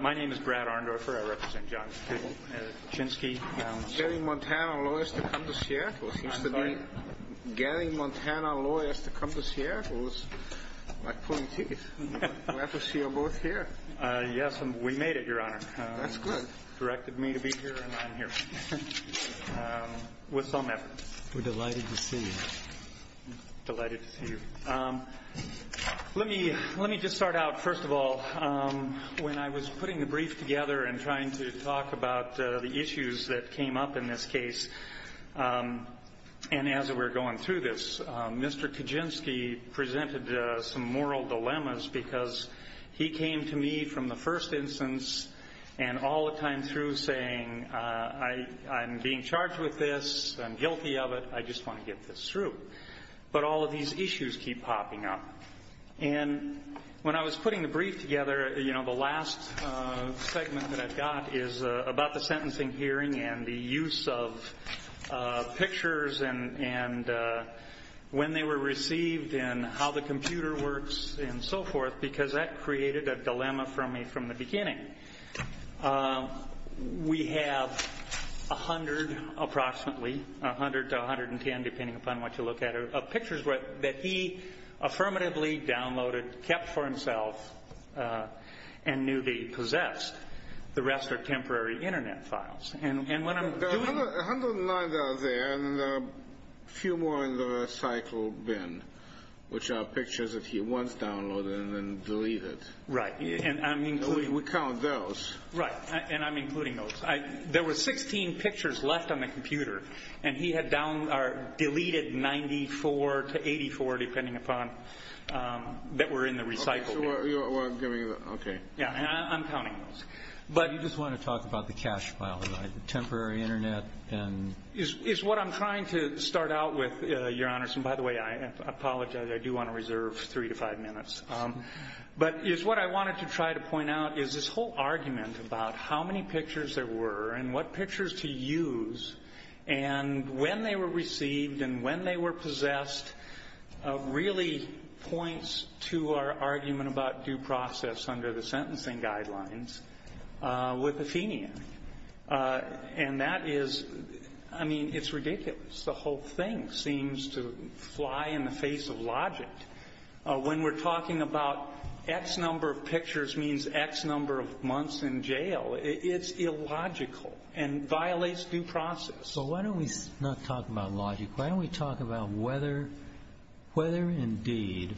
My name is Brad Arndorfer. I represent John Kuchinski. Gary Montana Lawyers to come to Seattle seems to be... Gary Montana Lawyers to come to Seattle is like pulling teeth. Glad to see you're both here. Yes, we made it, your honor. That's good. Directed me to be here and I'm here. With some effort. We're delighted to see you. Let me just start out, first of all, when I was putting the brief together and trying to talk about the issues that came up in this case, and as we're going through this, Mr. Kuchinski presented some moral dilemmas because he came to me from the first instance and all the time through saying, I'm being charged with this, I'm guilty of it, I just want to get this through. But all of these issues keep popping up. And when I was putting the brief together, you know, the last segment that I've got is about the sentencing hearing and the use of pictures and when they were received and how the computer works and so forth, because that created a dilemma for me from the beginning. We have 100, approximately, 100 to 110, depending upon what you look at, of pictures that he affirmatively downloaded, kept for himself, and knew that he possessed. The rest are temporary internet files. There are 109 that are there and a few more in the recycle bin, which are pictures that he once downloaded and then deleted. Right. We count those. Right, and I'm including those. There were 16 pictures left on the computer and he had deleted 94 to 84, depending upon, that were in the recycle bin. Okay. Yeah, and I'm counting those. But you just want to talk about the cache file, the temporary internet. It's what I'm trying to start out with, Your Honors. And, by the way, I apologize. I do want to reserve three to five minutes. But it's what I wanted to try to point out is this whole argument about how many pictures there were and what pictures to use and when they were received and when they were possessed really points to our argument about due process under the sentencing guidelines. With Athenian. And that is, I mean, it's ridiculous. The whole thing seems to fly in the face of logic. When we're talking about X number of pictures means X number of months in jail, it's illogical and violates due process. So why don't we not talk about logic? Why don't we talk about whether indeed,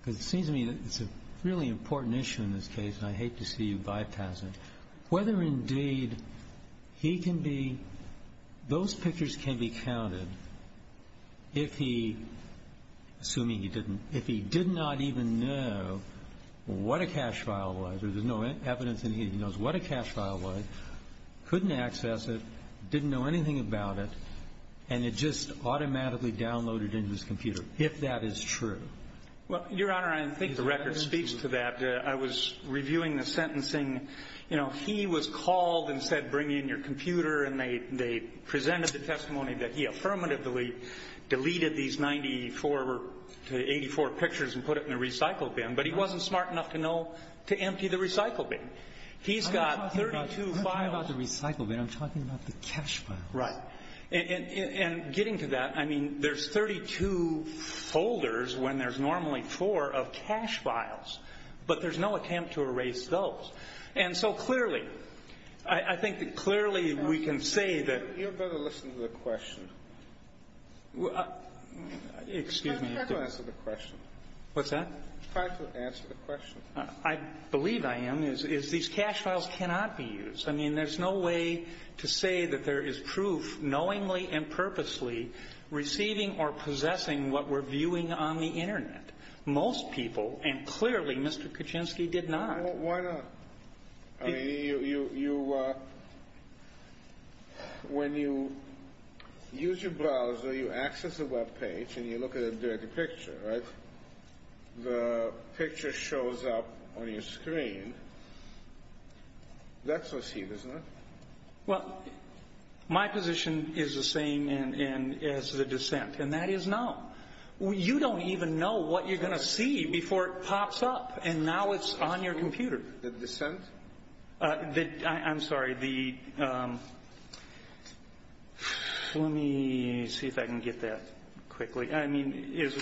because it seems to me it's a really important issue in this case and I hate to see you bypass it. Whether indeed he can be, those pictures can be counted if he, assuming he didn't, if he did not even know what a cache file was, or there's no evidence that he knows what a cache file was, couldn't access it, didn't know anything about it, and it just automatically downloaded into his computer, if that is true. Well, Your Honor, I think the record speaks to that. I was reviewing the sentencing. He was called and said, bring in your computer, and they presented the testimony that he affirmatively deleted these 94 to 84 pictures and put it in the recycle bin. But he wasn't smart enough to know to empty the recycle bin. He's got 32 files. I'm not talking about the recycle bin. I'm talking about the cache files. Right. And getting to that, I mean, there's 32 folders when there's normally four of cache files. But there's no attempt to erase those. And so clearly, I think that clearly we can say that. You better listen to the question. Excuse me. Try to answer the question. What's that? Try to answer the question. I believe I am, is these cache files cannot be used. I mean, there's no way to say that there is proof knowingly and purposely receiving or possessing what we're viewing on the Internet. Most people, and clearly Mr. Kaczynski did not. Why not? I mean, when you use your browser, you access a Web page, and you look at a dirty picture, right? The picture shows up on your screen. That's what's here, isn't it? Well, my position is the same as the dissent, and that is no. You don't even know what you're going to see before it pops up, and now it's on your computer. The dissent? I'm sorry. Let me see if I can get that quickly. I mean, is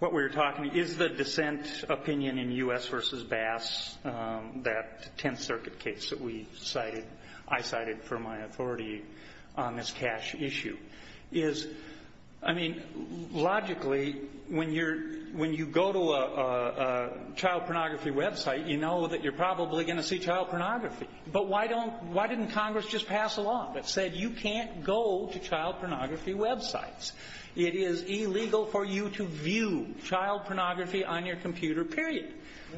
what we're talking, is the dissent opinion in U.S. v. Bass, that Tenth Circuit case that we cited, I cited for my authority on this cache issue. I mean, logically, when you go to a child pornography Web site, you know that you're probably going to see child pornography. But why didn't Congress just pass a law that said you can't go to child pornography Web sites? It is illegal for you to view child pornography on your computer, period.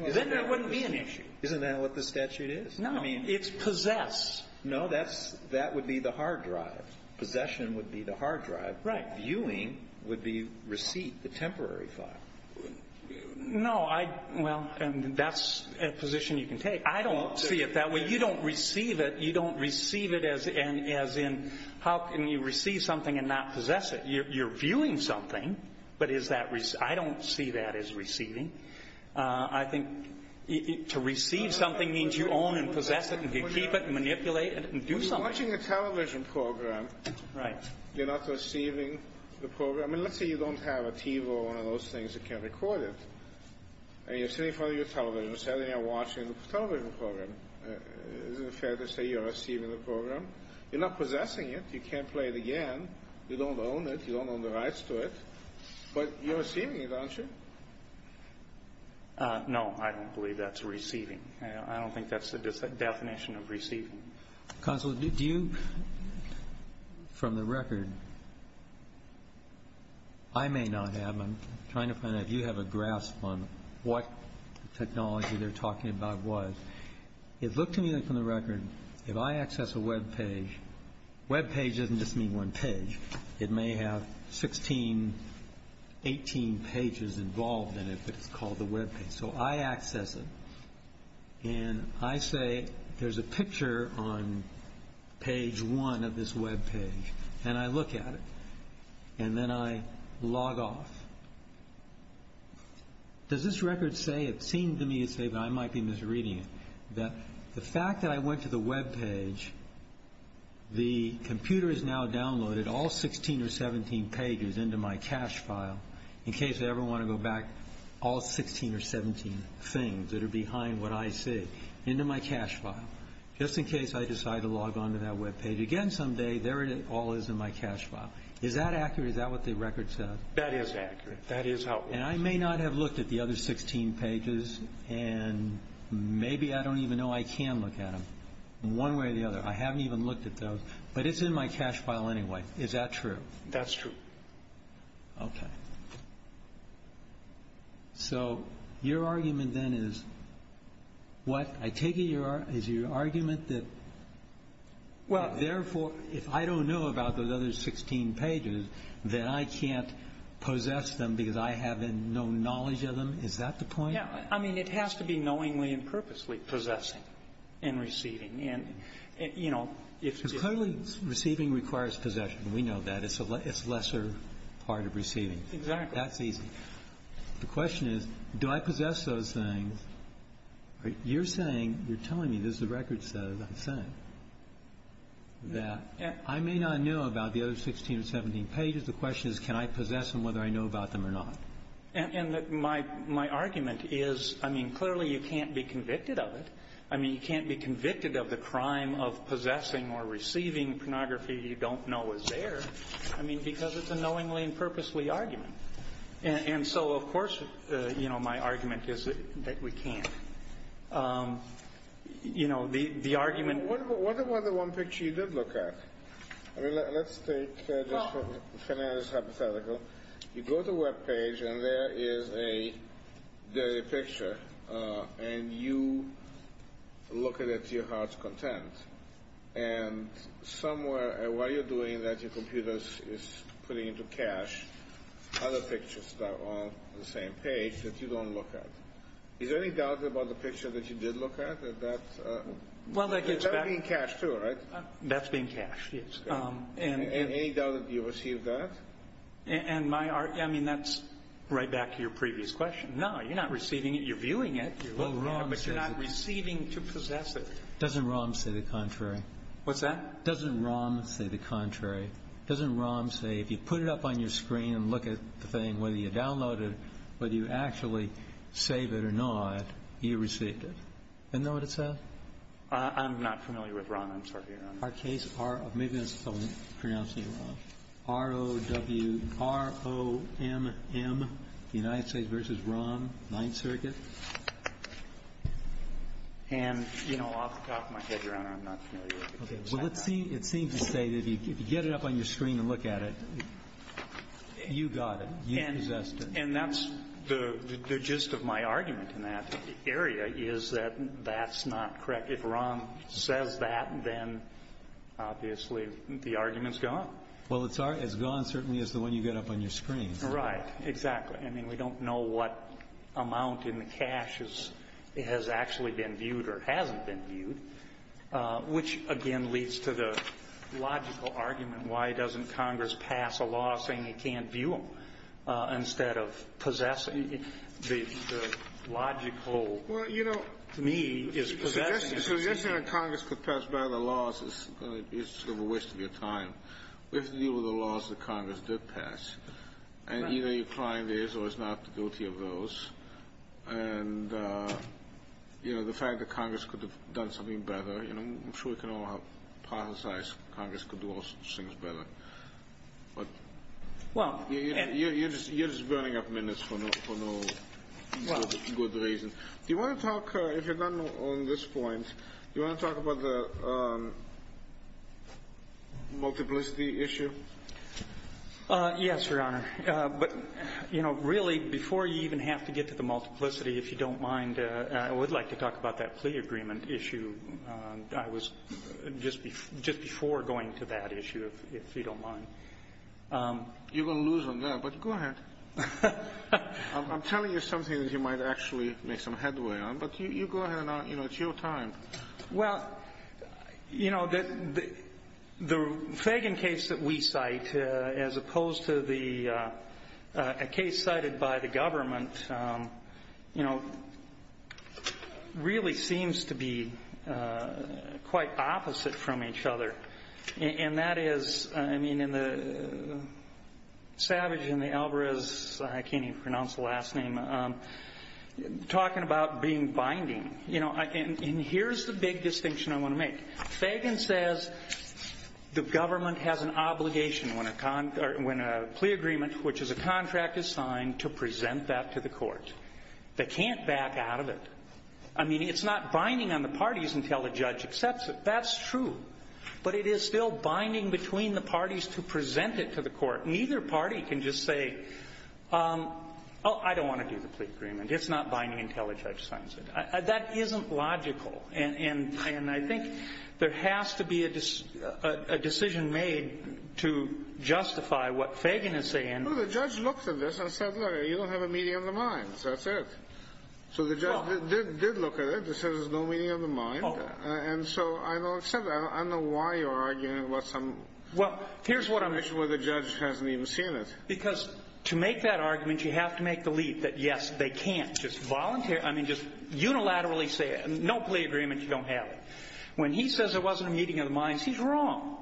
Then there wouldn't be an issue. Isn't that what the statute is? No. It's possess. No, that would be the hard drive. Possession would be the hard drive. Right. Viewing would be receipt, the temporary file. No, I, well, and that's a position you can take. I don't see it that way. You don't receive it. You don't receive it as in, how can you receive something and not possess it? You're viewing something, but is that, I don't see that as receiving. I think to receive something means you own and possess it and can keep it and manipulate it and do something. You're watching a television program. Right. You're not receiving the program. I mean, let's say you don't have a TV or one of those things that can record it. And you're sitting in front of your television set and you're watching the television program. Isn't it fair to say you're receiving the program? You're not possessing it. You can't play it again. You don't own it. You don't own the rights to it. But you're receiving it, aren't you? No, I don't believe that's receiving. I don't think that's the definition of receiving. Counsel, do you, from the record, I may not have them. I'm trying to find out if you have a grasp on what technology they're talking about was. It looked to me from the record, if I access a web page, web page doesn't just mean one page. It may have 16, 18 pages involved in it, but it's called a web page. So I access it and I say there's a picture on page one of this web page. And I look at it. And then I log off. Does this record say, it seemed to me to say that I might be misreading it, that the fact that I went to the web page, the computer has now downloaded all 16 or 17 pages into my cache file, in case I ever want to go back all 16 or 17 things that are behind what I see into my cache file, just in case I decide to log on to that web page again someday, there it all is in my cache file. Is that accurate? Is that what the record says? That is accurate. That is how it works. And I may not have looked at the other 16 pages. And maybe I don't even know I can look at them one way or the other. I haven't even looked at those. But it's in my cache file anyway. Is that true? That's true. Okay. So your argument, then, is what? I take it is your argument that therefore, if I don't know about those other 16 pages, then I can't possess them because I have no knowledge of them? Is that the point? Yeah. I mean, it has to be knowingly and purposely possessing and receiving. And, you know, if it's... Clearly receiving requires possession. We know that. It's a lesser part of receiving. Exactly. That's easy. The question is, do I possess those things? You're saying, you're telling me, this is the record says, I'm saying, that I may not know about the other 16 or 17 pages. The question is, can I possess them whether I know about them or not? And my argument is, I mean, clearly you can't be convicted of it. I mean, you can't be convicted of the crime of possessing or receiving pornography you don't know is there. I mean, because it's a knowingly and purposely argument. And so, of course, you know, my argument is that we can't. You know, the argument... What about the one picture you did look at? I mean, let's take just for finesse hypothetical. You go to a web page and there is a picture, and you look at it to your heart's content. And somewhere while you're doing that, your computer is putting into cache other pictures that are all on the same page that you don't look at. Is there any doubt about the picture that you did look at? That's being cached too, right? That's being cached, yes. And any doubt that you received that? And my argument, I mean, that's right back to your previous question. No, you're not receiving it. You're viewing it. But you're not receiving to possess it. Doesn't ROM say the contrary? What's that? Doesn't ROM say the contrary? Doesn't ROM say if you put it up on your screen and look at the thing, whether you download it, whether you actually save it or not, you received it? Isn't that what it says? I'm not familiar with ROM. I'm sorry, Your Honor. Our case ROM, the United States v. ROM, Ninth Circuit. And, you know, off the top of my head, Your Honor, I'm not familiar with it. Well, it seems to say that if you get it up on your screen and look at it, you got it. You possessed it. And that's the gist of my argument in that area is that that's not correct. If ROM says that, then obviously the argument's gone. Well, it's gone certainly as the one you get up on your screen. Right. I mean, we don't know what amount in the cache has actually been viewed or hasn't been viewed, which, again, leads to the logical argument, why doesn't Congress pass a law saying it can't view them instead of possessing it? The logical, to me, is possessing it. Well, you know, the suggestion that Congress could pass better laws is sort of a waste of your time. We have to deal with the laws that Congress did pass. Right. And either your client is or is not guilty of those. And, you know, the fact that Congress could have done something better, you know, I'm sure we can all hypothesize Congress could do all sorts of things better. But you're just burning up minutes for no good reason. Do you want to talk, if you're done on this point, do you want to talk about the multiplicity issue? Yes, Your Honor. But, you know, really, before you even have to get to the multiplicity, if you don't mind, I would like to talk about that plea agreement issue. I was just before going to that issue, if you don't mind. You're going to lose on that, but go ahead. I'm telling you something that you might actually make some headway on, but you go ahead and, you know, it's your time. Well, you know, the Fagan case that we cite, as opposed to the case cited by the government, you know, really seems to be quite opposite from each other. And that is, I mean, in the Savage and the Alvarez, I can't even pronounce the last name, talking about being binding. You know, and here's the big distinction I want to make. Fagan says the government has an obligation when a plea agreement, which is a contract is signed, to present that to the court. They can't back out of it. I mean, it's not binding on the parties until the judge accepts it. That's true. But it is still binding between the parties to present it to the court. Neither party can just say, oh, I don't want to do the plea agreement. It's not binding until the judge signs it. That isn't logical. And I think there has to be a decision made to justify what Fagan is saying. Well, the judge looked at this and said, look, you don't have a meeting of the minds. That's it. So the judge did look at it. It says there's no meeting of the mind. And so I don't accept that. I don't know why you're arguing about some situation where the judge hasn't even seen it. Because to make that argument, you have to make the leap that, yes, they can't I mean, just unilaterally say it. No plea agreement, you don't have it. When he says there wasn't a meeting of the minds, he's wrong.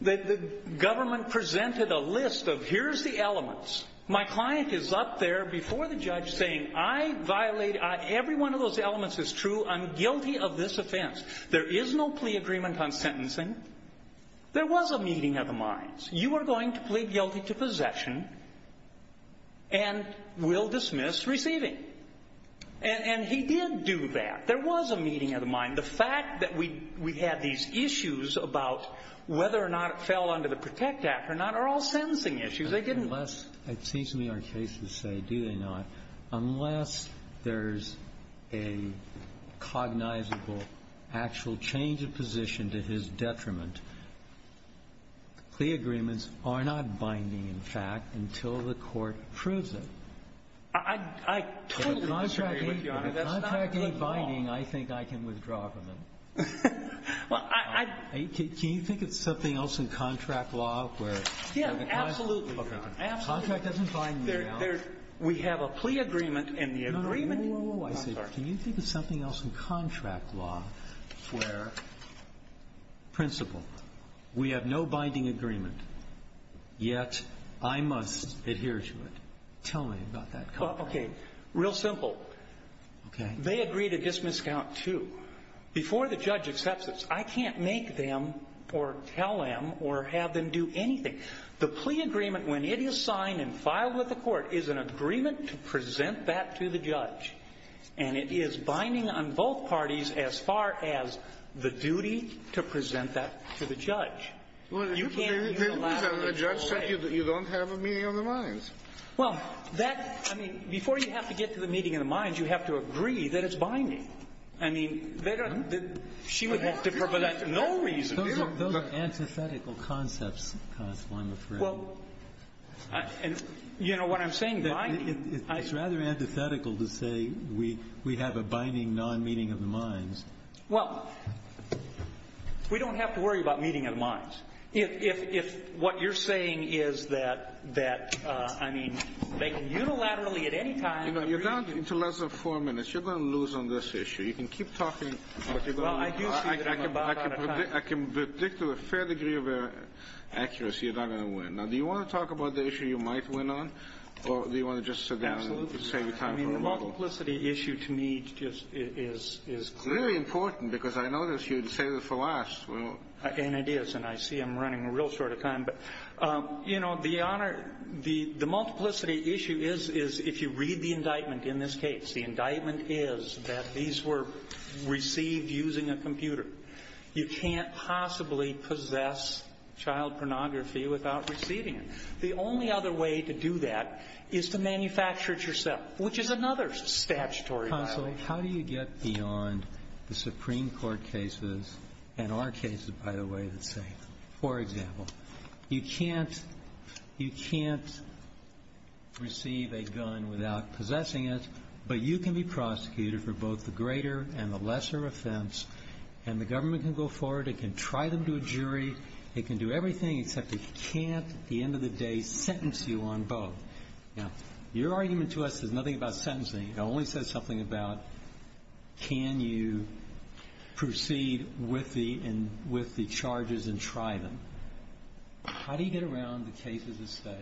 The government presented a list of here's the elements. My client is up there before the judge saying I violated, every one of those elements is true. I'm guilty of this offense. There is no plea agreement on sentencing. There was a meeting of the minds. You are going to plead guilty to possession and will dismiss receiving. And he did do that. There was a meeting of the mind. The fact that we had these issues about whether or not it fell under the protect act or not are all sentencing issues. They didn't Unless, it seems to me our cases say, do they not, unless there's a cognizable actual change of position to his detriment, plea agreements are not binding, in fact, until the court proves it. I totally disagree with you, Your Honor. That's not good law. Contract A binding, I think I can withdraw from it. Well, I Can you think of something else in contract law where Yeah, absolutely. Contract doesn't bind me. We have a plea agreement and the agreement No, no, no. Can you think of something else in contract law where, principle, we have no binding agreement, yet I must adhere to it. Tell me about that contract. Okay. Real simple. Okay. They agree to dismiss count two. Before the judge accepts it, I can't make them or tell them or have them do anything. The plea agreement, when it is signed and filed with the court, is an agreement to present that to the judge. And it is binding on both parties as far as the duty to present that to the judge. You can't Well, that, I mean, before you have to get to the meeting of the minds, you have to agree that it's binding. I mean, she would have to, for no reason. Those are antithetical concepts, Constable, I'm afraid. Well, and you know what I'm saying, binding It's rather antithetical to say we have a binding non-meeting of the minds. Well, we don't have to worry about meeting of the minds. If what you're saying is that, I mean, they can unilaterally at any time You know, you're down to less than four minutes. You're going to lose on this issue. You can keep talking. Well, I do see that I'm about out of time. I can predict to a fair degree of accuracy you're not going to win. Now, do you want to talk about the issue you might win on, or do you want to just sit down and save your time for a little I mean, the multiplicity issue, to me, just is clear. It's very important, because I know that you'd save it for last. And it is. And I see I'm running a real short of time. But, you know, the honor, the multiplicity issue is if you read the indictment in this case, the indictment is that these were received using a computer. You can't possibly possess child pornography without receiving it. The only other way to do that is to manufacture it yourself, which is another statutory violation. Counsel, how do you get beyond the Supreme Court cases, and our cases, by the way, that say, for example, you can't receive a gun without possessing it, but you can be prosecuted for both the greater and the lesser offense. And the government can go forward. It can try them to a jury. It can do everything except it can't, at the end of the day, sentence you on both. Now, your argument to us is nothing about sentencing. It only says something about can you proceed with the charges and try them. How do you get around the cases that say,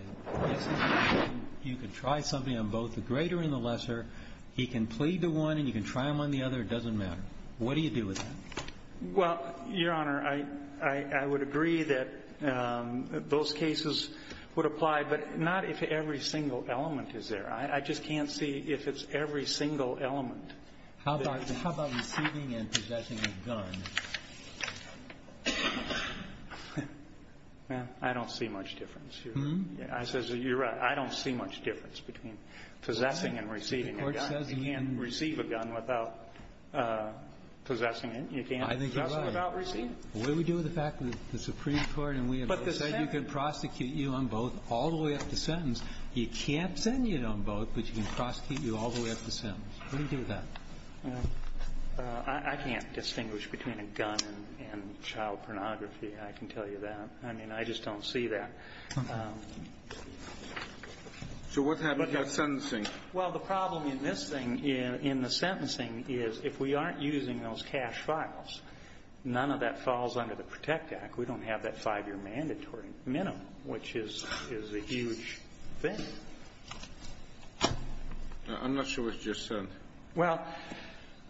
yes, you can try something on both the greater and the lesser. He can plead to one and you can try them on the other. It doesn't matter. What do you do with that? Well, Your Honor, I would agree that those cases would apply, but not if every single element is there. I just can't see if it's every single element. How about receiving and possessing a gun? I don't see much difference. I says you're right. I don't see much difference between possessing and receiving a gun. You can't receive a gun without possessing it. You can't possess it without receiving it. I think you're right. What do we do with the fact that the Supreme Court and we have said you can prosecute you on both all the way up to sentence. You can't send you on both, but you can prosecute you all the way up to sentence. What do you do with that? I can't distinguish between a gun and child pornography. I can tell you that. I mean, I just don't see that. So what about sentencing? Well, the problem in this thing, in the sentencing, is if we aren't using those cash files, none of that falls under the Protect Act. We don't have that five-year mandatory minimum, which is a huge thing. I'm not sure what you just said. Well,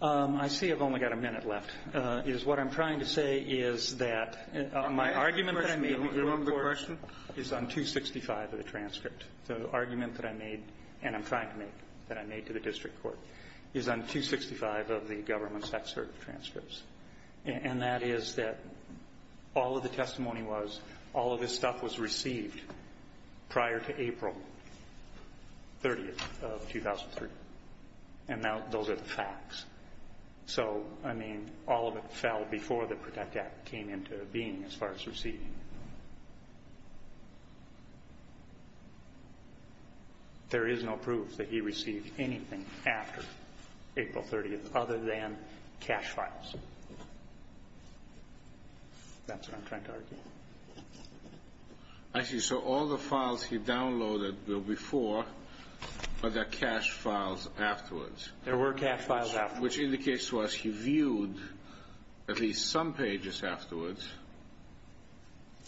I see I've only got a minute left. What I'm trying to say is that my argument that I made before is on 265 of the transcript. The argument that I made, and I'm trying to make, that I made to the district court is on 265 of the government's excerpt of transcripts. And that is that all of the testimony was, all of this stuff was received prior to April 30th of 2003. And those are the facts. So, I mean, all of it fell before the Protect Act came into being as far as receiving. There is no proof that he received anything after April 30th other than cash files. That's what I'm trying to argue. I see. So all the files he downloaded before are the cash files afterwards. There were cash files afterwards. Which indicates to us he viewed at least some pages afterwards.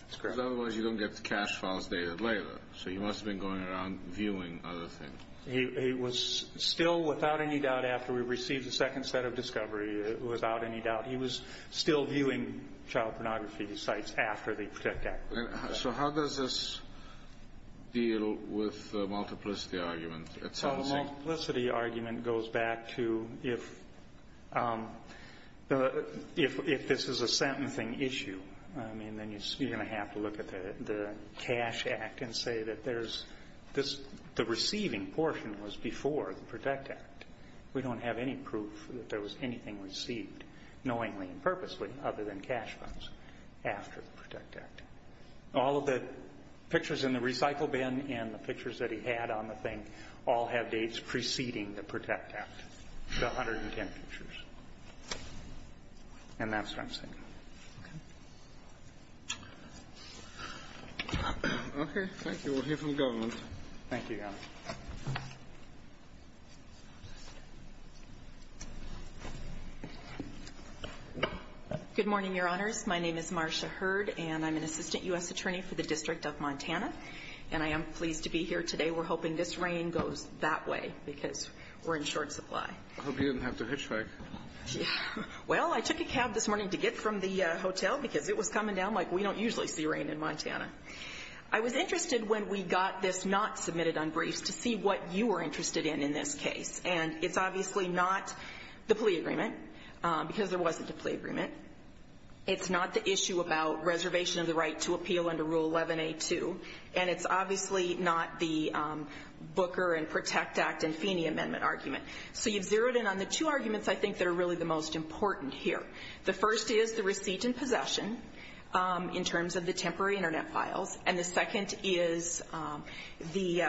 That's correct. Because otherwise you don't get the cash files dated later. So he must have been going around viewing other things. He was still, without any doubt, after we received the second set of discovery, without any doubt, he was still viewing child pornography sites after the Protect Act. So how does this deal with the multiplicity argument? So the multiplicity argument goes back to if this is a sentencing issue, I mean, then you're going to have to look at the Cash Act and say that there's this, the receiving portion was before the Protect Act. We don't have any proof that there was anything received knowingly and purposely other than cash files after the Protect Act. All of the pictures in the recycle bin and the pictures that he had on the thing all have dates preceding the Protect Act. The 110 pictures. And that's what I'm saying. Okay. Okay. Thank you. We'll hear from the government. Thank you, Your Honor. Good morning, Your Honors. My name is Marcia Hurd, and I'm an assistant U.S. attorney for the District of Montana. And I am pleased to be here today. We're hoping this rain goes that way because we're in short supply. I hope you didn't have to hitchhike. Well, I took a cab this morning to get from the hotel because it was coming down like we don't usually see rain in Montana. I was interested when we got this not submitted on briefs to see what you were interested in in this case. And it's obviously not the plea agreement because there wasn't a plea agreement. It's not the issue about reservation of the right to appeal under Rule 11A2. And it's obviously not the Booker and Protect Act and Feeney Amendment argument. So you've zeroed in on the two arguments I think that are really the most important here. The first is the receipt and possession in terms of the temporary Internet files. And the second is the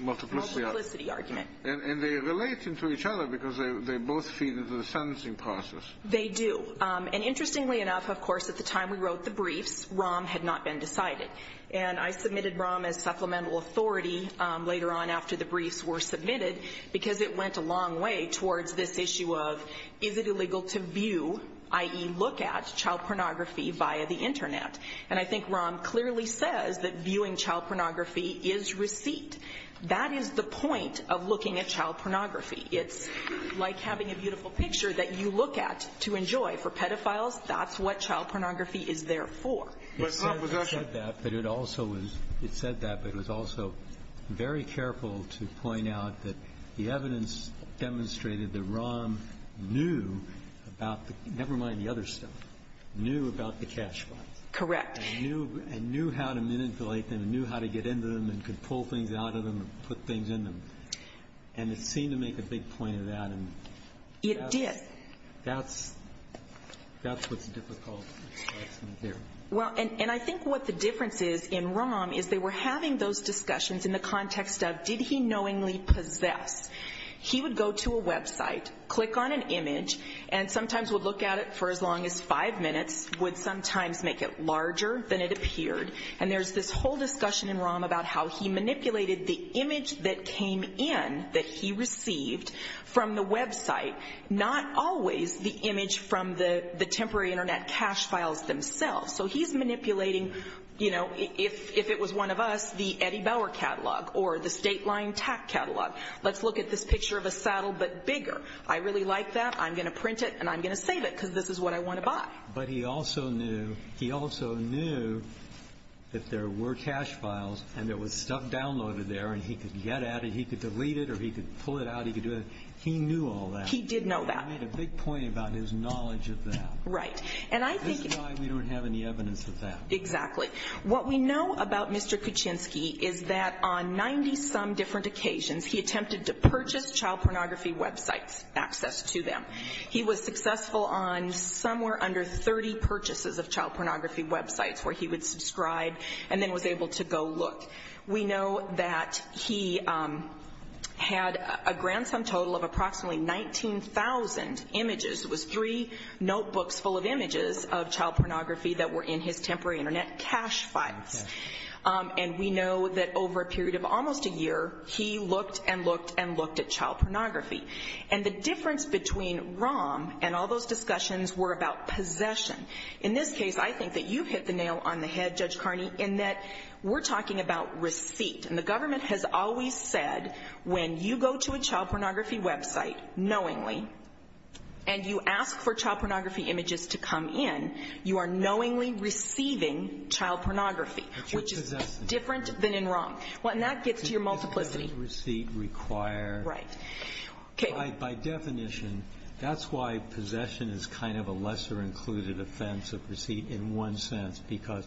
multiplicity argument. And they relate into each other because they both feed into the sentencing process. They do. And interestingly enough, of course, at the time we wrote the briefs, ROM had not been decided. And I submitted ROM as supplemental authority later on after the briefs were submitted because it went a long way towards this issue of is it illegal to view, i.e., look at child pornography via the Internet. And I think ROM clearly says that viewing child pornography is receipt. That is the point of looking at child pornography. It's like having a beautiful picture that you look at to enjoy. For pedophiles, that's what child pornography is there for. It said that, but it also was very careful to point out that the evidence demonstrated that ROM knew about the cash files. Correct. And knew how to manipulate them and knew how to get into them and could pull things out of them and put things in them. And it seemed to make a big point of that. It did. That's what's difficult. Well, and I think what the difference is in ROM is they were having those discussions in the context of did he knowingly possess. He would go to a website, click on an image, and sometimes would look at it for as long as five minutes, would sometimes make it larger than it appeared. And there's this whole discussion in ROM about how he manipulated the image that came in that he received from the website, not always the image from the temporary Internet cash files themselves. So he's manipulating, you know, if it was one of us, the Eddie Bauer catalog or the state line TAC catalog. Let's look at this picture of a saddle but bigger. I really like that. I'm going to print it and I'm going to save it because this is what I want to buy. But he also knew that there were cash files and there was stuff downloaded there and he could get at it, he could delete it or he could pull it out, he could do it. He knew all that. He did know that. He made a big point about his knowledge of that. Right. This is why we don't have any evidence of that. Exactly. What we know about Mr. Kuczynski is that on 90-some different occasions, he attempted to purchase child pornography websites, access to them. He was successful on somewhere under 30 purchases of child pornography websites where he would subscribe and then was able to go look. We know that he had a grand sum total of approximately 19,000 images. It was three notebooks full of images of child pornography that were in his temporary Internet cash files. And we know that over a period of almost a year, he looked and looked and looked at child pornography. And the difference between ROM and all those discussions were about possession. In this case, I think that you hit the nail on the head, Judge Carney, in that we're talking about receipt. And the government has always said when you go to a child pornography website knowingly and you ask for child pornography images to come in, you are knowingly receiving child pornography, which is different than in ROM. And that gets to your multiplicity. Right. By definition, that's why possession is kind of a lesser included offense of receipt in one sense because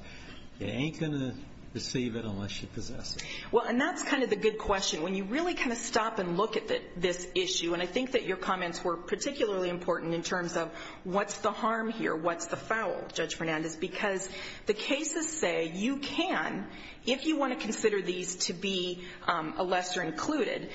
you ain't going to receive it unless you possess it. Well, and that's kind of the good question. When you really kind of stop and look at this issue, and I think that your comments were particularly important in terms of what's the harm here, what's the foul, Judge Fernandez, because the cases say you can, if you want to consider these to be a lesser included.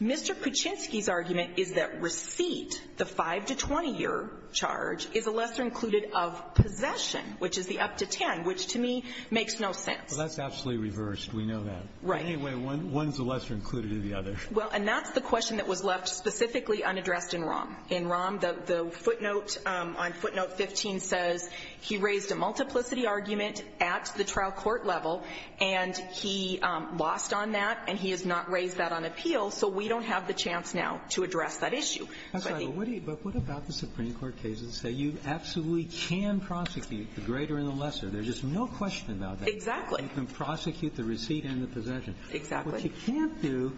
Mr. Puchinsky's argument is that receipt, the 5- to 20-year charge, is a lesser included of possession, which is the up to 10, which to me makes no sense. Well, that's absolutely reversed. We know that. Right. Anyway, one's a lesser included of the other. Well, and that's the question that was left specifically unaddressed in ROM. In ROM, the footnote on footnote 15 says, he raised a multiplicity argument at the trial court level, and he lost on that, and he has not raised that on appeal, so we don't have the chance now to address that issue. I'm sorry, but what about the Supreme Court cases that say you absolutely can prosecute the greater and the lesser. There's just no question about that. Exactly. You can prosecute the receipt and the possession. Exactly. What you can't do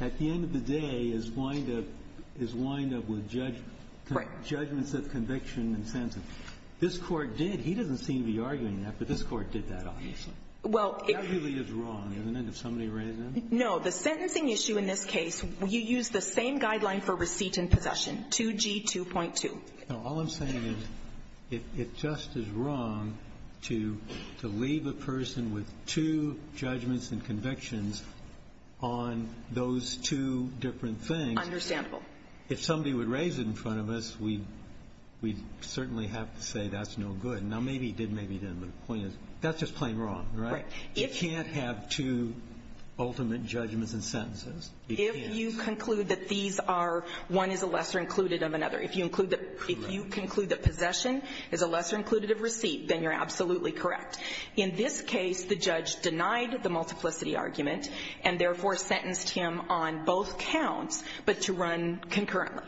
at the end of the day is wind up with judgments of conviction and sentence. This Court did. He doesn't seem to be arguing that, but this Court did that, obviously. That really is wrong, isn't it, if somebody raised that? No. The sentencing issue in this case, you use the same guideline for receipt and possession, 2G2.2. No. All I'm saying is it just is wrong to leave a person with two judgments and convictions on those two different things. Understandable. If somebody would raise it in front of us, we'd certainly have to say that's no good. Now, maybe he did, maybe he didn't, but the point is that's just plain wrong, right? Right. You can't have two ultimate judgments and sentences. You can't. If you conclude that these are one is a lesser included of another, if you include the possession is a lesser included of receipt, then you're absolutely correct. In this case, the judge denied the multiplicity argument and therefore sentenced him on both counts, but to run concurrently.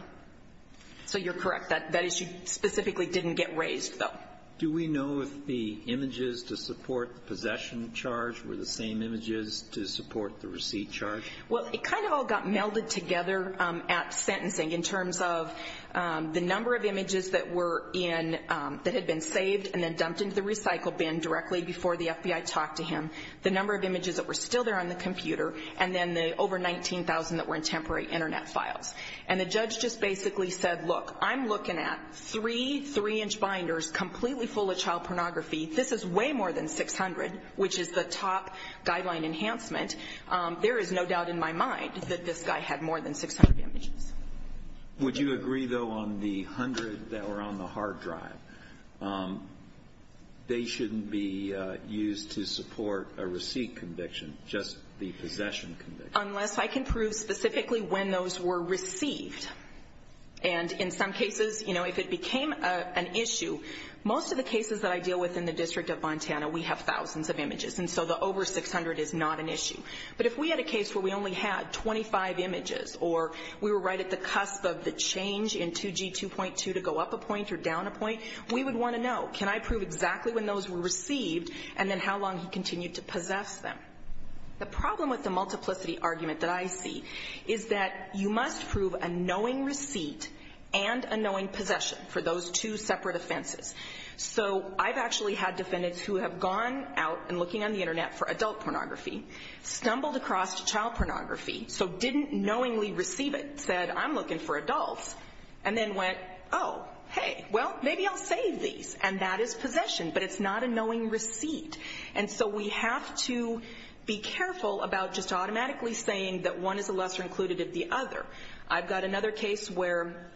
So you're correct. That issue specifically didn't get raised, though. Do we know if the images to support the possession charge were the same images to support the receipt charge? Well, it kind of all got melded together at sentencing in terms of the number of images that were in, that had been saved and then dumped into the recycle bin directly before the FBI talked to him, the number of images that were still there on the computer, and then the over 19,000 that were in temporary Internet files. And the judge just basically said, look, I'm looking at three 3-inch binders completely full of child pornography. This is way more than 600, which is the top guideline enhancement. There is no doubt in my mind that this guy had more than 600 images. Would you agree, though, on the 100 that were on the hard drive, they shouldn't be used to support a receipt conviction, just the possession conviction? Unless I can prove specifically when those were received. And in some cases, if it became an issue, most of the cases that I deal with in the District of Montana, we have thousands of images, and so the over 600 is not an issue. But if we had a case where we only had 25 images or we were right at the cusp of the change in 2G2.2 to go up a point or down a point, we would want to know, can I prove exactly when those were received and then how long he continued to possess them? The problem with the multiplicity argument that I see is that you must prove a knowing receipt and a knowing possession for those two separate offenses. So I've actually had defendants who have gone out and looking on the Internet for adult pornography, stumbled across child pornography, so didn't knowingly receive it, said, I'm looking for adults, and then went, oh, hey, well, maybe I'll save these. And that is possession. But it's not a knowing receipt. And so we have to be careful about just automatically saying that one is a lesser included of the other. I've got another case where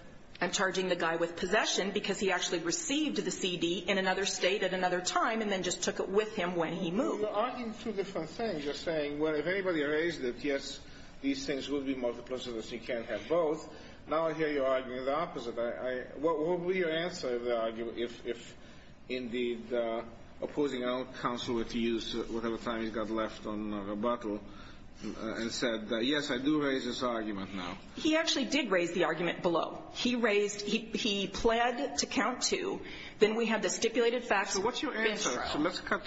I'm charging the guy with possession because he actually received the CD in another state at another time and then just took it with him when he moved. Well, you're arguing two different things. You're saying, well, if anybody raised it, yes, these things would be multiplicity, but you can't have both. Now I hear you arguing the opposite. What would be your answer if, indeed, opposing counsel were to use whatever time he's got left on rebuttal and said, yes, I do raise this argument now? He actually did raise the argument below. He raised he pled to count to. Then we have the stipulated facts. So what's your answer? So let's cut.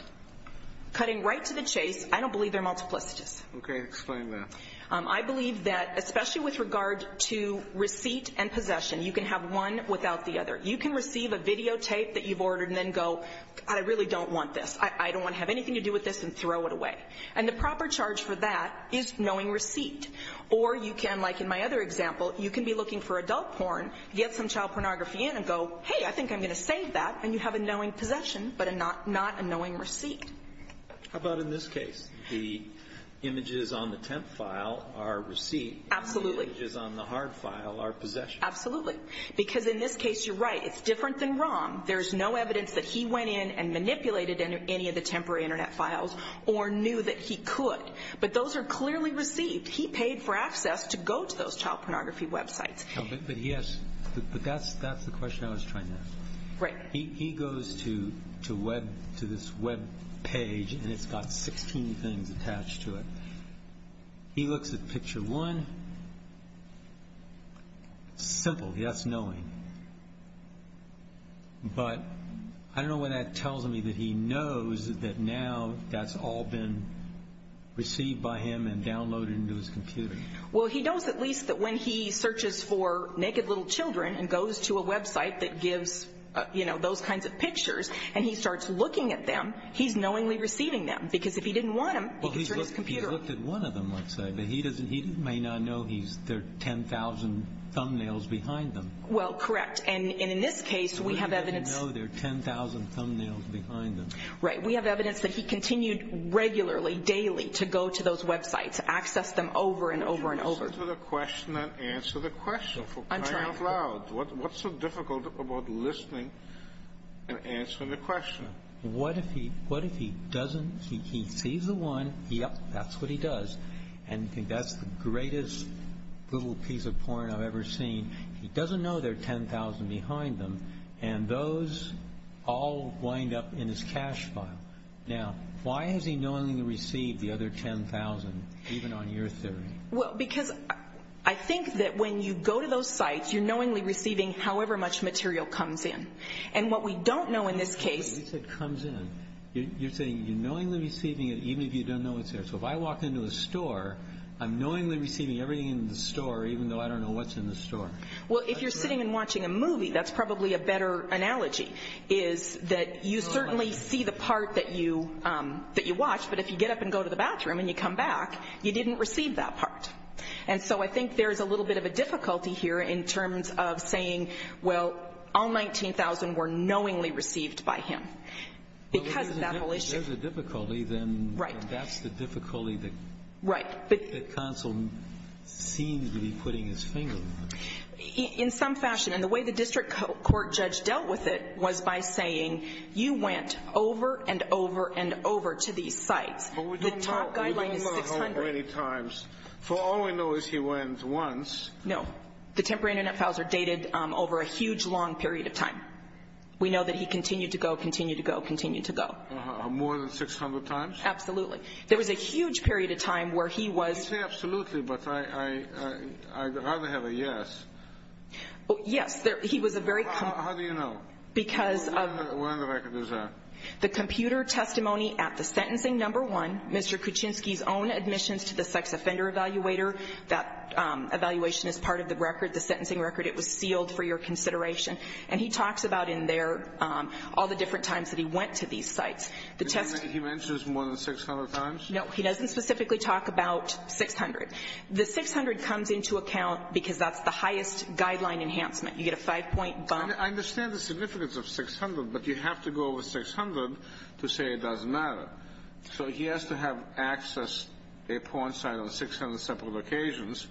Cutting right to the chase, I don't believe they're multiplicities. Okay, explain that. I believe that, especially with regard to receipt and possession, you can have one without the other. You can receive a videotape that you've ordered and then go, I really don't want this. I don't want to have anything to do with this and throw it away. And the proper charge for that is knowing receipt. Or you can, like in my other example, you can be looking for adult porn, get some child pornography in and go, hey, I think I'm going to save that, and you have a knowing possession but not a knowing receipt. How about in this case? The images on the temp file are receipt. Absolutely. The images on the hard file are possession. Absolutely. Because in this case, you're right. It's different than ROM. There's no evidence that he went in and manipulated any of the temporary Internet files or knew that he could. But those are clearly received. He paid for access to go to those child pornography websites. But that's the question I was trying to ask. Right. He goes to this webpage, and it's got 16 things attached to it. He looks at picture one. Simple, yes, knowing. But I don't know what that tells me that he knows that now that's all been received by him and downloaded into his computer. Well, he knows at least that when he searches for naked little children and goes to a website that gives, you know, those kinds of pictures, and he starts looking at them, he's knowingly receiving them. Because if he didn't want them, he could search his computer. Well, he's looked at one of them, let's say. But he may not know there are 10,000 thumbnails behind them. Well, correct. And in this case, we have evidence. He may not know there are 10,000 thumbnails behind them. Right. We have evidence that he continued regularly, daily, to go to those websites, access them over and over and over. Answer the question. I'm trying. Speak up loud. What's so difficult about listening and answering the question? What if he doesn't? He sees the one. Yep, that's what he does. And that's the greatest little piece of porn I've ever seen. He doesn't know there are 10,000 behind them. And those all wind up in his cache file. Now, why is he knowingly received the other 10,000, even on your theory? Well, because I think that when you go to those sites, you're knowingly receiving however much material comes in. And what we don't know in this case. You said comes in. You're saying you're knowingly receiving it, even if you don't know it's there. So if I walk into a store, I'm knowingly receiving everything in the store, even though I don't know what's in the store. Well, if you're sitting and watching a movie, that's probably a better analogy, is that you certainly see the part that you watch, but if you get up and go to the bathroom and you come back, you didn't receive that part. And so I think there's a little bit of a difficulty here in terms of saying, well, all 19,000 were knowingly received by him because of that whole issue. Well, if there's a difficulty, then that's the difficulty that counsel seems to be putting his finger on. In some fashion. And the way the district court judge dealt with it was by saying, you went over and over and over to these sites. But we don't know how many times. For all we know is he went once. No. The temporary Internet files are dated over a huge, long period of time. We know that he continued to go, continued to go, continued to go. More than 600 times? Absolutely. There was a huge period of time where he was. You say absolutely, but I'd rather have a yes. Yes. He was a very. How do you know? Because of. Where on the record is that? The computer testimony at the sentencing number one, Mr. Kuczynski's own admissions to the sex offender evaluator. That evaluation is part of the record, the sentencing record. It was sealed for your consideration. And he talks about in there all the different times that he went to these sites. The test. He mentions more than 600 times? No. He doesn't specifically talk about 600. The 600 comes into account because that's the highest guideline enhancement. You get a five-point bump. I understand the significance of 600, but you have to go over 600 to say it doesn't matter. So he has to have access a porn site on 600 separate occasions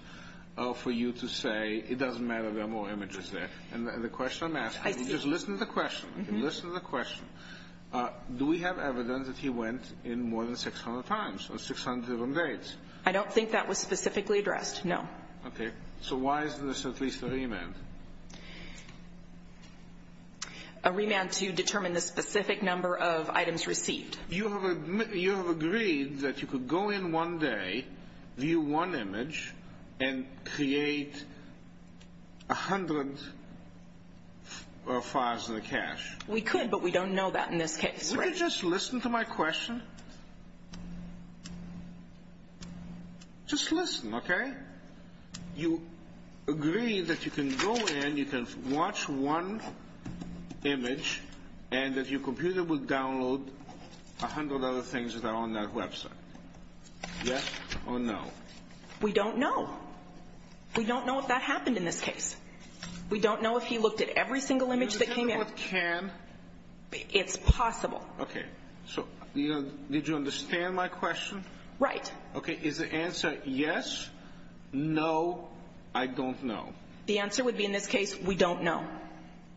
for you to say it doesn't matter. There are more images there. And the question I'm asking. I see. Just listen to the question. Listen to the question. Do we have evidence that he went in more than 600 times or 600 of them dates? I don't think that was specifically addressed. No. Okay. So why is this at least a remand? A remand to determine the specific number of items received. You have agreed that you could go in one day, view one image, and create 100 files in the cache. We could, but we don't know that in this case. Would you just listen to my question? Just listen, okay? You agree that you can go in, you can watch one image, and that your computer will download 100 other things that are on that website. Yes or no? We don't know. We don't know if that happened in this case. We don't know if he looked at every single image that came in. We don't know if he can. It's possible. Okay. So did you understand my question? Right. Okay. Is the answer yes, no, I don't know? The answer would be in this case, we don't know.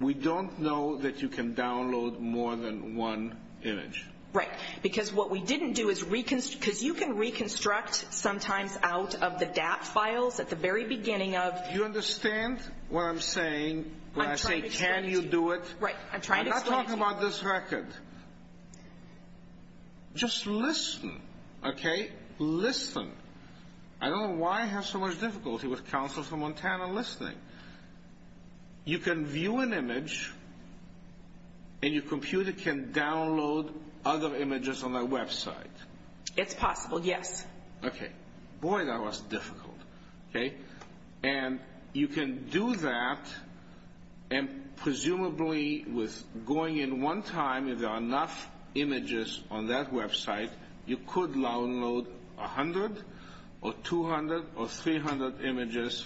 We don't know that you can download more than one image. Right. Because what we didn't do is reconstruct, because you can reconstruct sometimes out of the DAP files at the very beginning of... Do you understand what I'm saying when I say can you do it? Right. I'm trying to explain it to you. What about this record? Just listen, okay? Listen. I don't know why I have so much difficulty with counsel from Montana listening. You can view an image, and your computer can download other images on that website. It's possible, yes. Okay. Boy, that was difficult. Okay. And you can do that, and presumably with going in one time, if there are enough images on that website, you could download 100 or 200 or 300 images,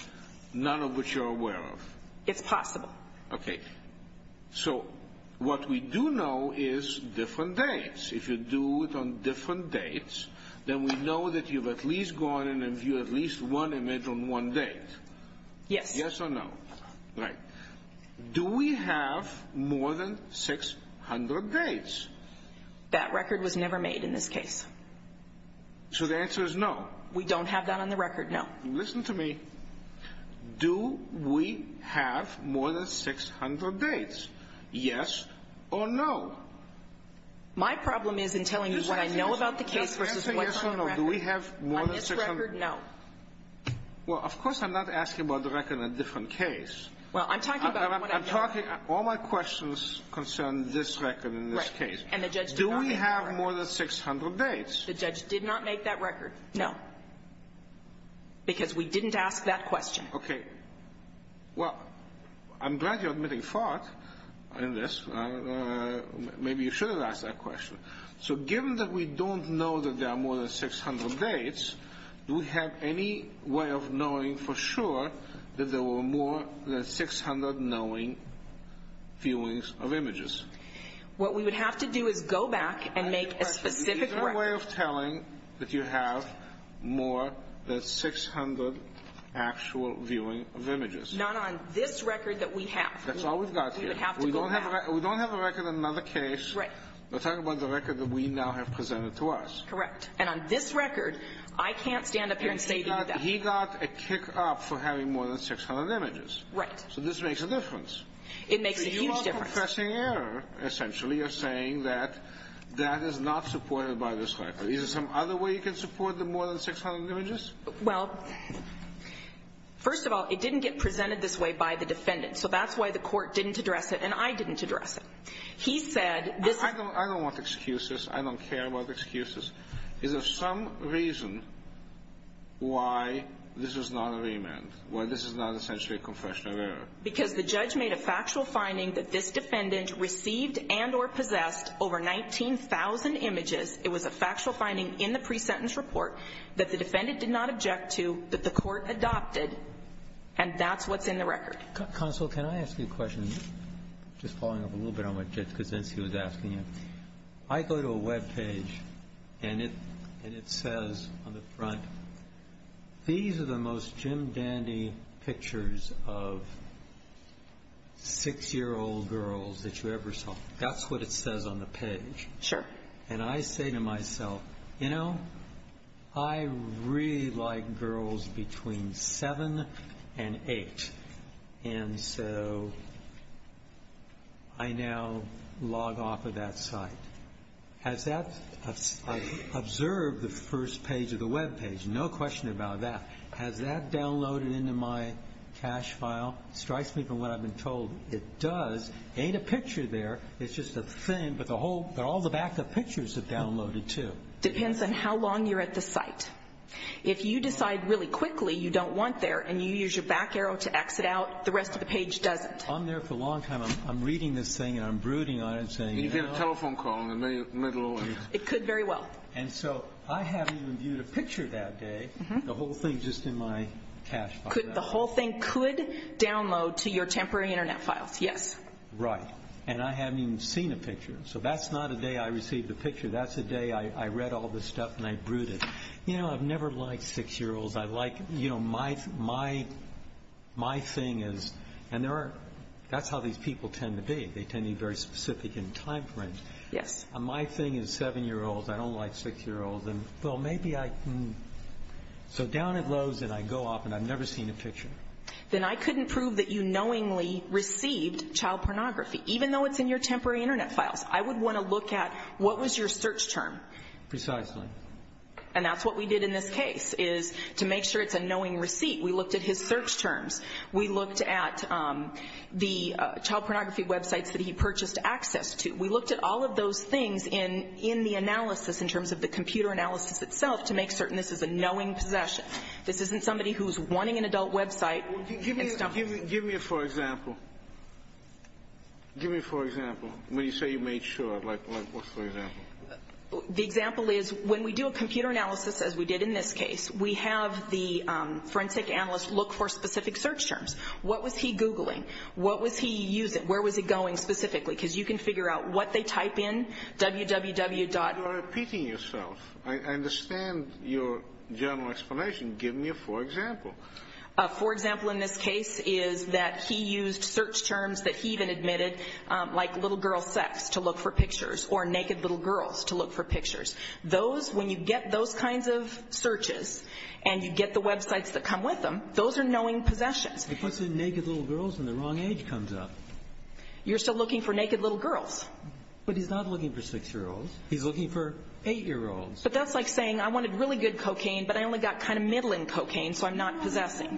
none of which you're aware of. It's possible. Okay. So what we do know is different dates. If you do it on different dates, then we know that you've at least gone in and viewed at least one image on one date. Yes. Yes or no? Right. Do we have more than 600 dates? That record was never made in this case. So the answer is no? We don't have that on the record, no. Listen to me. Do we have more than 600 dates? Yes or no? My problem is in telling you what I know about the case versus what's on the record. Yes or no? Do we have more than 600? On this record, no. Well, of course I'm not asking about the record on a different case. Well, I'm talking about what I know. I'm talking all my questions concern this record in this case. Right. And the judge did not make that record. Do we have more than 600 dates? The judge did not make that record, no, because we didn't ask that question. Okay. Well, I'm glad you're admitting fault in this. Maybe you should have asked that question. So given that we don't know that there are more than 600 dates, do we have any way of knowing for sure that there were more than 600 knowing viewings of images? What we would have to do is go back and make a specific record. Is there a way of telling that you have more than 600 actual viewing of images? Not on this record that we have. That's all we've got here. We would have to go back. We don't have a record on another case. Right. We're talking about the record that we now have presented to us. Correct. And on this record, I can't stand up here and say that. He got a kick up for having more than 600 images. Right. So this makes a difference. It makes a huge difference. You're confessing error, essentially, of saying that that is not supported by this record. Is there some other way you can support the more than 600 images? Well, first of all, it didn't get presented this way by the defendant. So that's why the Court didn't address it and I didn't address it. He said this is the reason. I don't want excuses. I don't care about excuses. Is there some reason why this is not a remand, why this is not essentially a confession of error? Because the judge made a factual finding that this defendant received and or possessed over 19,000 images. It was a factual finding in the pre-sentence report that the defendant did not object to, that the Court adopted, and that's what's in the record. Counsel, can I ask you a question, just following up a little bit on what Judge Kuczynski was asking you? I go to a Web page and it says on the front, these are the most Jim Dandy pictures of 6-year-old girls that you ever saw. That's what it says on the page. Sure. And I say to myself, you know, I really like girls between 7 and 8. And so I now log off of that site. I observe the first page of the Web page, no question about that. Has that downloaded into my cache file? It strikes me from what I've been told it does. It ain't a picture there, it's just a thing, but all the backup pictures have downloaded too. It depends on how long you're at the site. If you decide really quickly you don't want there and you use your back arrow to exit out, the rest of the page doesn't. I'm there for a long time. I'm reading this thing and I'm brooding on it and saying, you know. And you get a telephone call in the middle of it. It could very well. And so I haven't even viewed a picture that day, the whole thing just in my cache file. The whole thing could download to your temporary Internet files, yes. Right. And I haven't even seen a picture. So that's not a day I received a picture, that's a day I read all this stuff and I brooded. You know, I've never liked six-year-olds. I like, you know, my thing is, and that's how these people tend to be. They tend to be very specific in time frame. Yes. My thing is seven-year-olds. I don't like six-year-olds. And, well, maybe I can. So down it loads and I go off and I've never seen a picture. Then I couldn't prove that you knowingly received child pornography, even though it's in your temporary Internet files. I would want to look at what was your search term. Precisely. And that's what we did in this case, is to make sure it's a knowing receipt. We looked at his search terms. We looked at the child pornography websites that he purchased access to. We looked at all of those things in the analysis, in terms of the computer analysis itself, to make certain this is a knowing possession. This isn't somebody who's wanting an adult website. Give me a for example. Give me a for example. When you say you made sure, like what's for example? The example is when we do a computer analysis, as we did in this case, we have the forensic analyst look for specific search terms. What was he Googling? What was he using? Where was he going specifically? Because you can figure out what they type in, www. You're repeating yourself. I understand your general explanation. Give me a for example. For example, in this case, is that he used search terms that he even admitted, like little girl sex to look for pictures, or naked little girls to look for pictures. Those, when you get those kinds of searches, and you get the websites that come with them, those are knowing possessions. He puts in naked little girls, and the wrong age comes up. You're still looking for naked little girls. But he's not looking for 6-year-olds. He's looking for 8-year-olds. But that's like saying, I wanted really good cocaine, but I only got kind of middling cocaine, so I'm not possessing.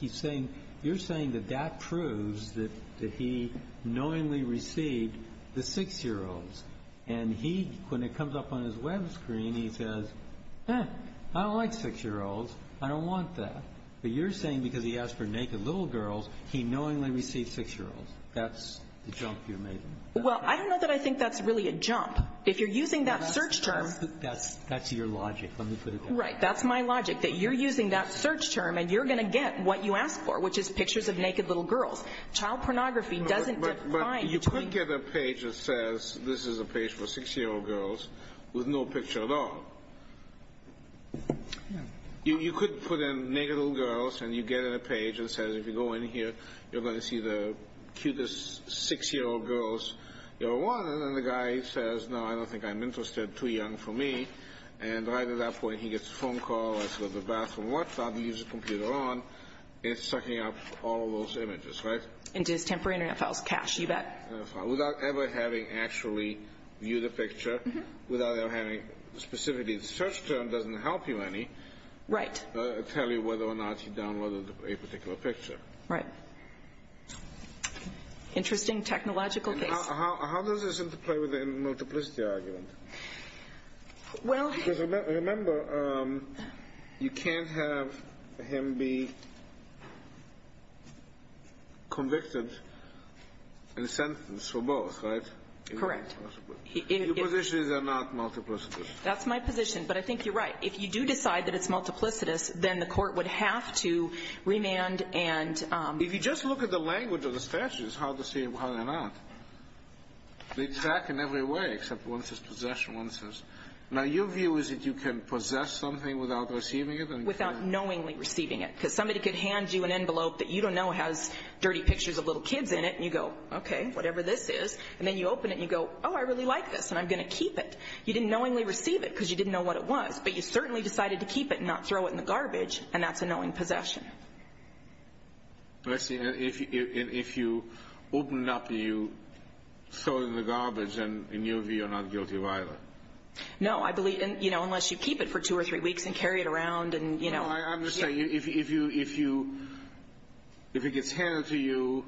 He's saying, you're saying that that proves that he knowingly received the 6-year-olds. And he, when it comes up on his web screen, he says, I don't like 6-year-olds. I don't want that. But you're saying because he asked for naked little girls, he knowingly received 6-year-olds. That's the jump you're making. Well, I don't know that I think that's really a jump. If you're using that search term. That's your logic. Let me put it that way. Right. That's my logic, that you're using that search term, and you're going to get what you asked for, which is pictures of naked little girls. Child pornography doesn't define. But you could get a page that says this is a page for 6-year-old girls with no picture at all. You could put in naked little girls, and you get in a page that says if you go in here, you're going to see the cutest 6-year-old girls you ever wanted. And then the guy says, no, I don't think I'm interested. Too young for me. And right at that point, he gets a phone call. He goes to the bathroom. What's up? He leaves the computer on. It's sucking up all of those images, right? Into his temporary Internet files, cache, you bet. Without ever having actually viewed a picture. Without ever having specifically the search term doesn't help you any. Right. Tell you whether or not he downloaded a particular picture. Right. Interesting technological case. How does this interplay with the multiplicity argument? Because remember, you can't have him be convicted and sentenced for both, right? Correct. Your position is they're not multiplicitous. That's my position. But I think you're right. If you do decide that it's multiplicitous, then the court would have to remand and ‑‑ If you just look at the language of the statute, it's hard to see why they're not. They track in every way except one says possession, one says ‑‑ Now, your view is that you can possess something without receiving it? Without knowingly receiving it. Because somebody could hand you an envelope that you don't know has dirty pictures of little kids in it. And you go, okay, whatever this is. And then you open it and you go, oh, I really like this. And I'm going to keep it. You didn't knowingly receive it because you didn't know what it was. But you certainly decided to keep it and not throw it in the garbage. And that's a knowing possession. Let's see. If you open it up and you throw it in the garbage, then in your view you're not guilty of either. No, I believe, you know, unless you keep it for two or three weeks and carry it around and, you know. I'm just saying, if it gets handed to you,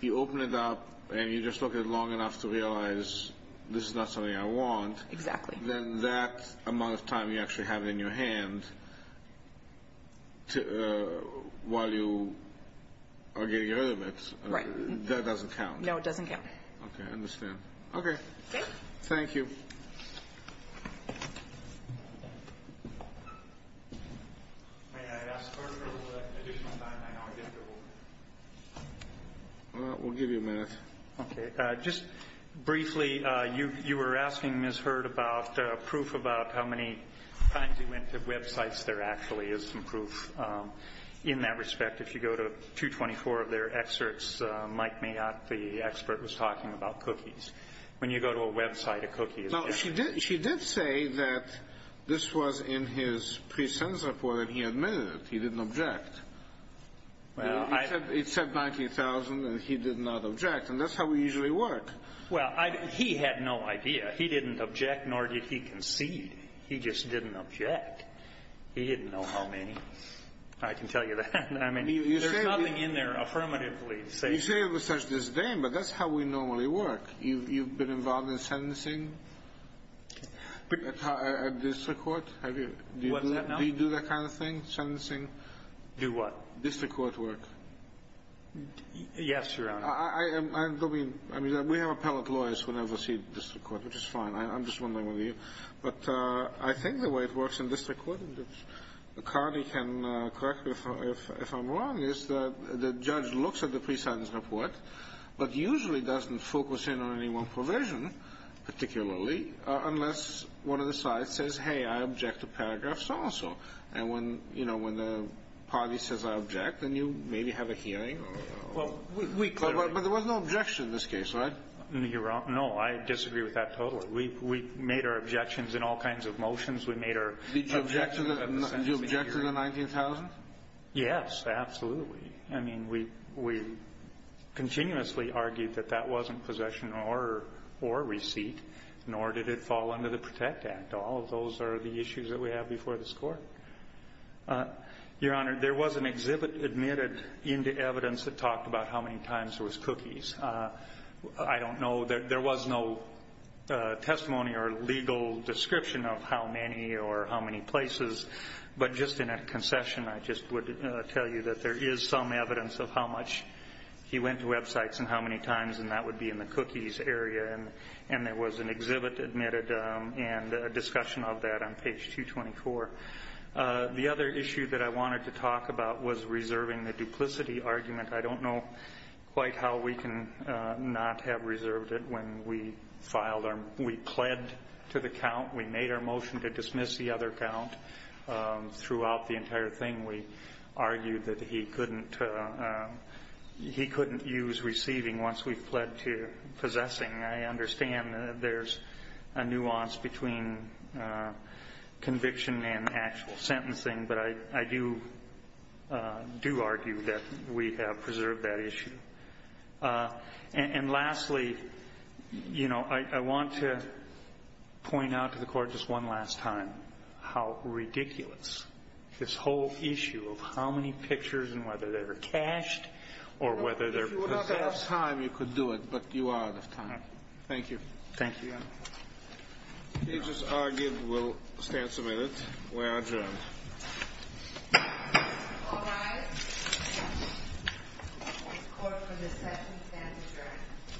you open it up and you just look at it long enough to realize this is not something I want. Exactly. Then that amount of time you actually have in your hand while you are getting rid of it, that doesn't count. No, it doesn't count. Okay, I understand. Okay. Thank you. We'll give you a minute. Okay. Just briefly, you were asking Ms. Hurd about proof about how many times you went to websites. There actually is some proof in that respect. If you go to 224 of their excerpts, Mike Mayotte, the expert, was talking about cookies. When you go to a website, a cookie is there. She did say that this was in his pre-sense report and he admitted it. He didn't object. It said 90,000 and he did not object. And that's how we usually work. Well, he had no idea. He didn't object, nor did he concede. He just didn't object. He didn't know how many. I can tell you that. I mean, there's nothing in there affirmatively to say. You say it with such disdain, but that's how we normally work. You've been involved in sentencing at district court? Have you? What's that now? Do you do that kind of thing, sentencing? Do what? District court work. Yes, Your Honor. I mean, we have appellate lawyers who have received district court, which is fine. I'm just wondering whether you. But I think the way it works in district court, and Connie can correct me if I'm wrong, is that the judge looks at the pre-sense report but usually doesn't focus in on any one provision, particularly, unless one of the sides says, hey, I object to paragraphs also. And when the party says I object, then you maybe have a hearing. But there was no objection in this case, right? You're wrong. No, I disagree with that totally. We made our objections in all kinds of motions. We made our objections at the sentencing hearing. Did you object to the 19,000? Yes, absolutely. I mean, we continuously argued that that wasn't possession or receipt, nor did it fall under the PROTECT Act. All of those are the issues that we have before this Court. Your Honor, there was an exhibit admitted into evidence that talked about how many times there was cookies. I don't know. There was no testimony or legal description of how many or how many places. But just in a concession, I just would tell you that there is some evidence of how much he went to websites and how many times, and that would be in the cookies area. And there was an exhibit admitted and a discussion of that on page 224. The other issue that I wanted to talk about was reserving the duplicity argument. I don't know quite how we can not have reserved it when we filed our ‑‑ we pled to the count. We made our motion to dismiss the other count. Throughout the entire thing, we argued that he couldn't use receiving once we pled to possessing. I understand that there's a nuance between conviction and actual sentencing, but I do argue that we have preserved that issue. And lastly, you know, I want to point out to the Court just one last time how ridiculous this whole issue of how many pictures and whether they're cached or whether they're possessed. At this time, you could do it, but you are out of time. Thank you. Thank you, Your Honor. We just argued. We'll stand a minute. We're adjourned. All rise. The Court for the second stand adjourned.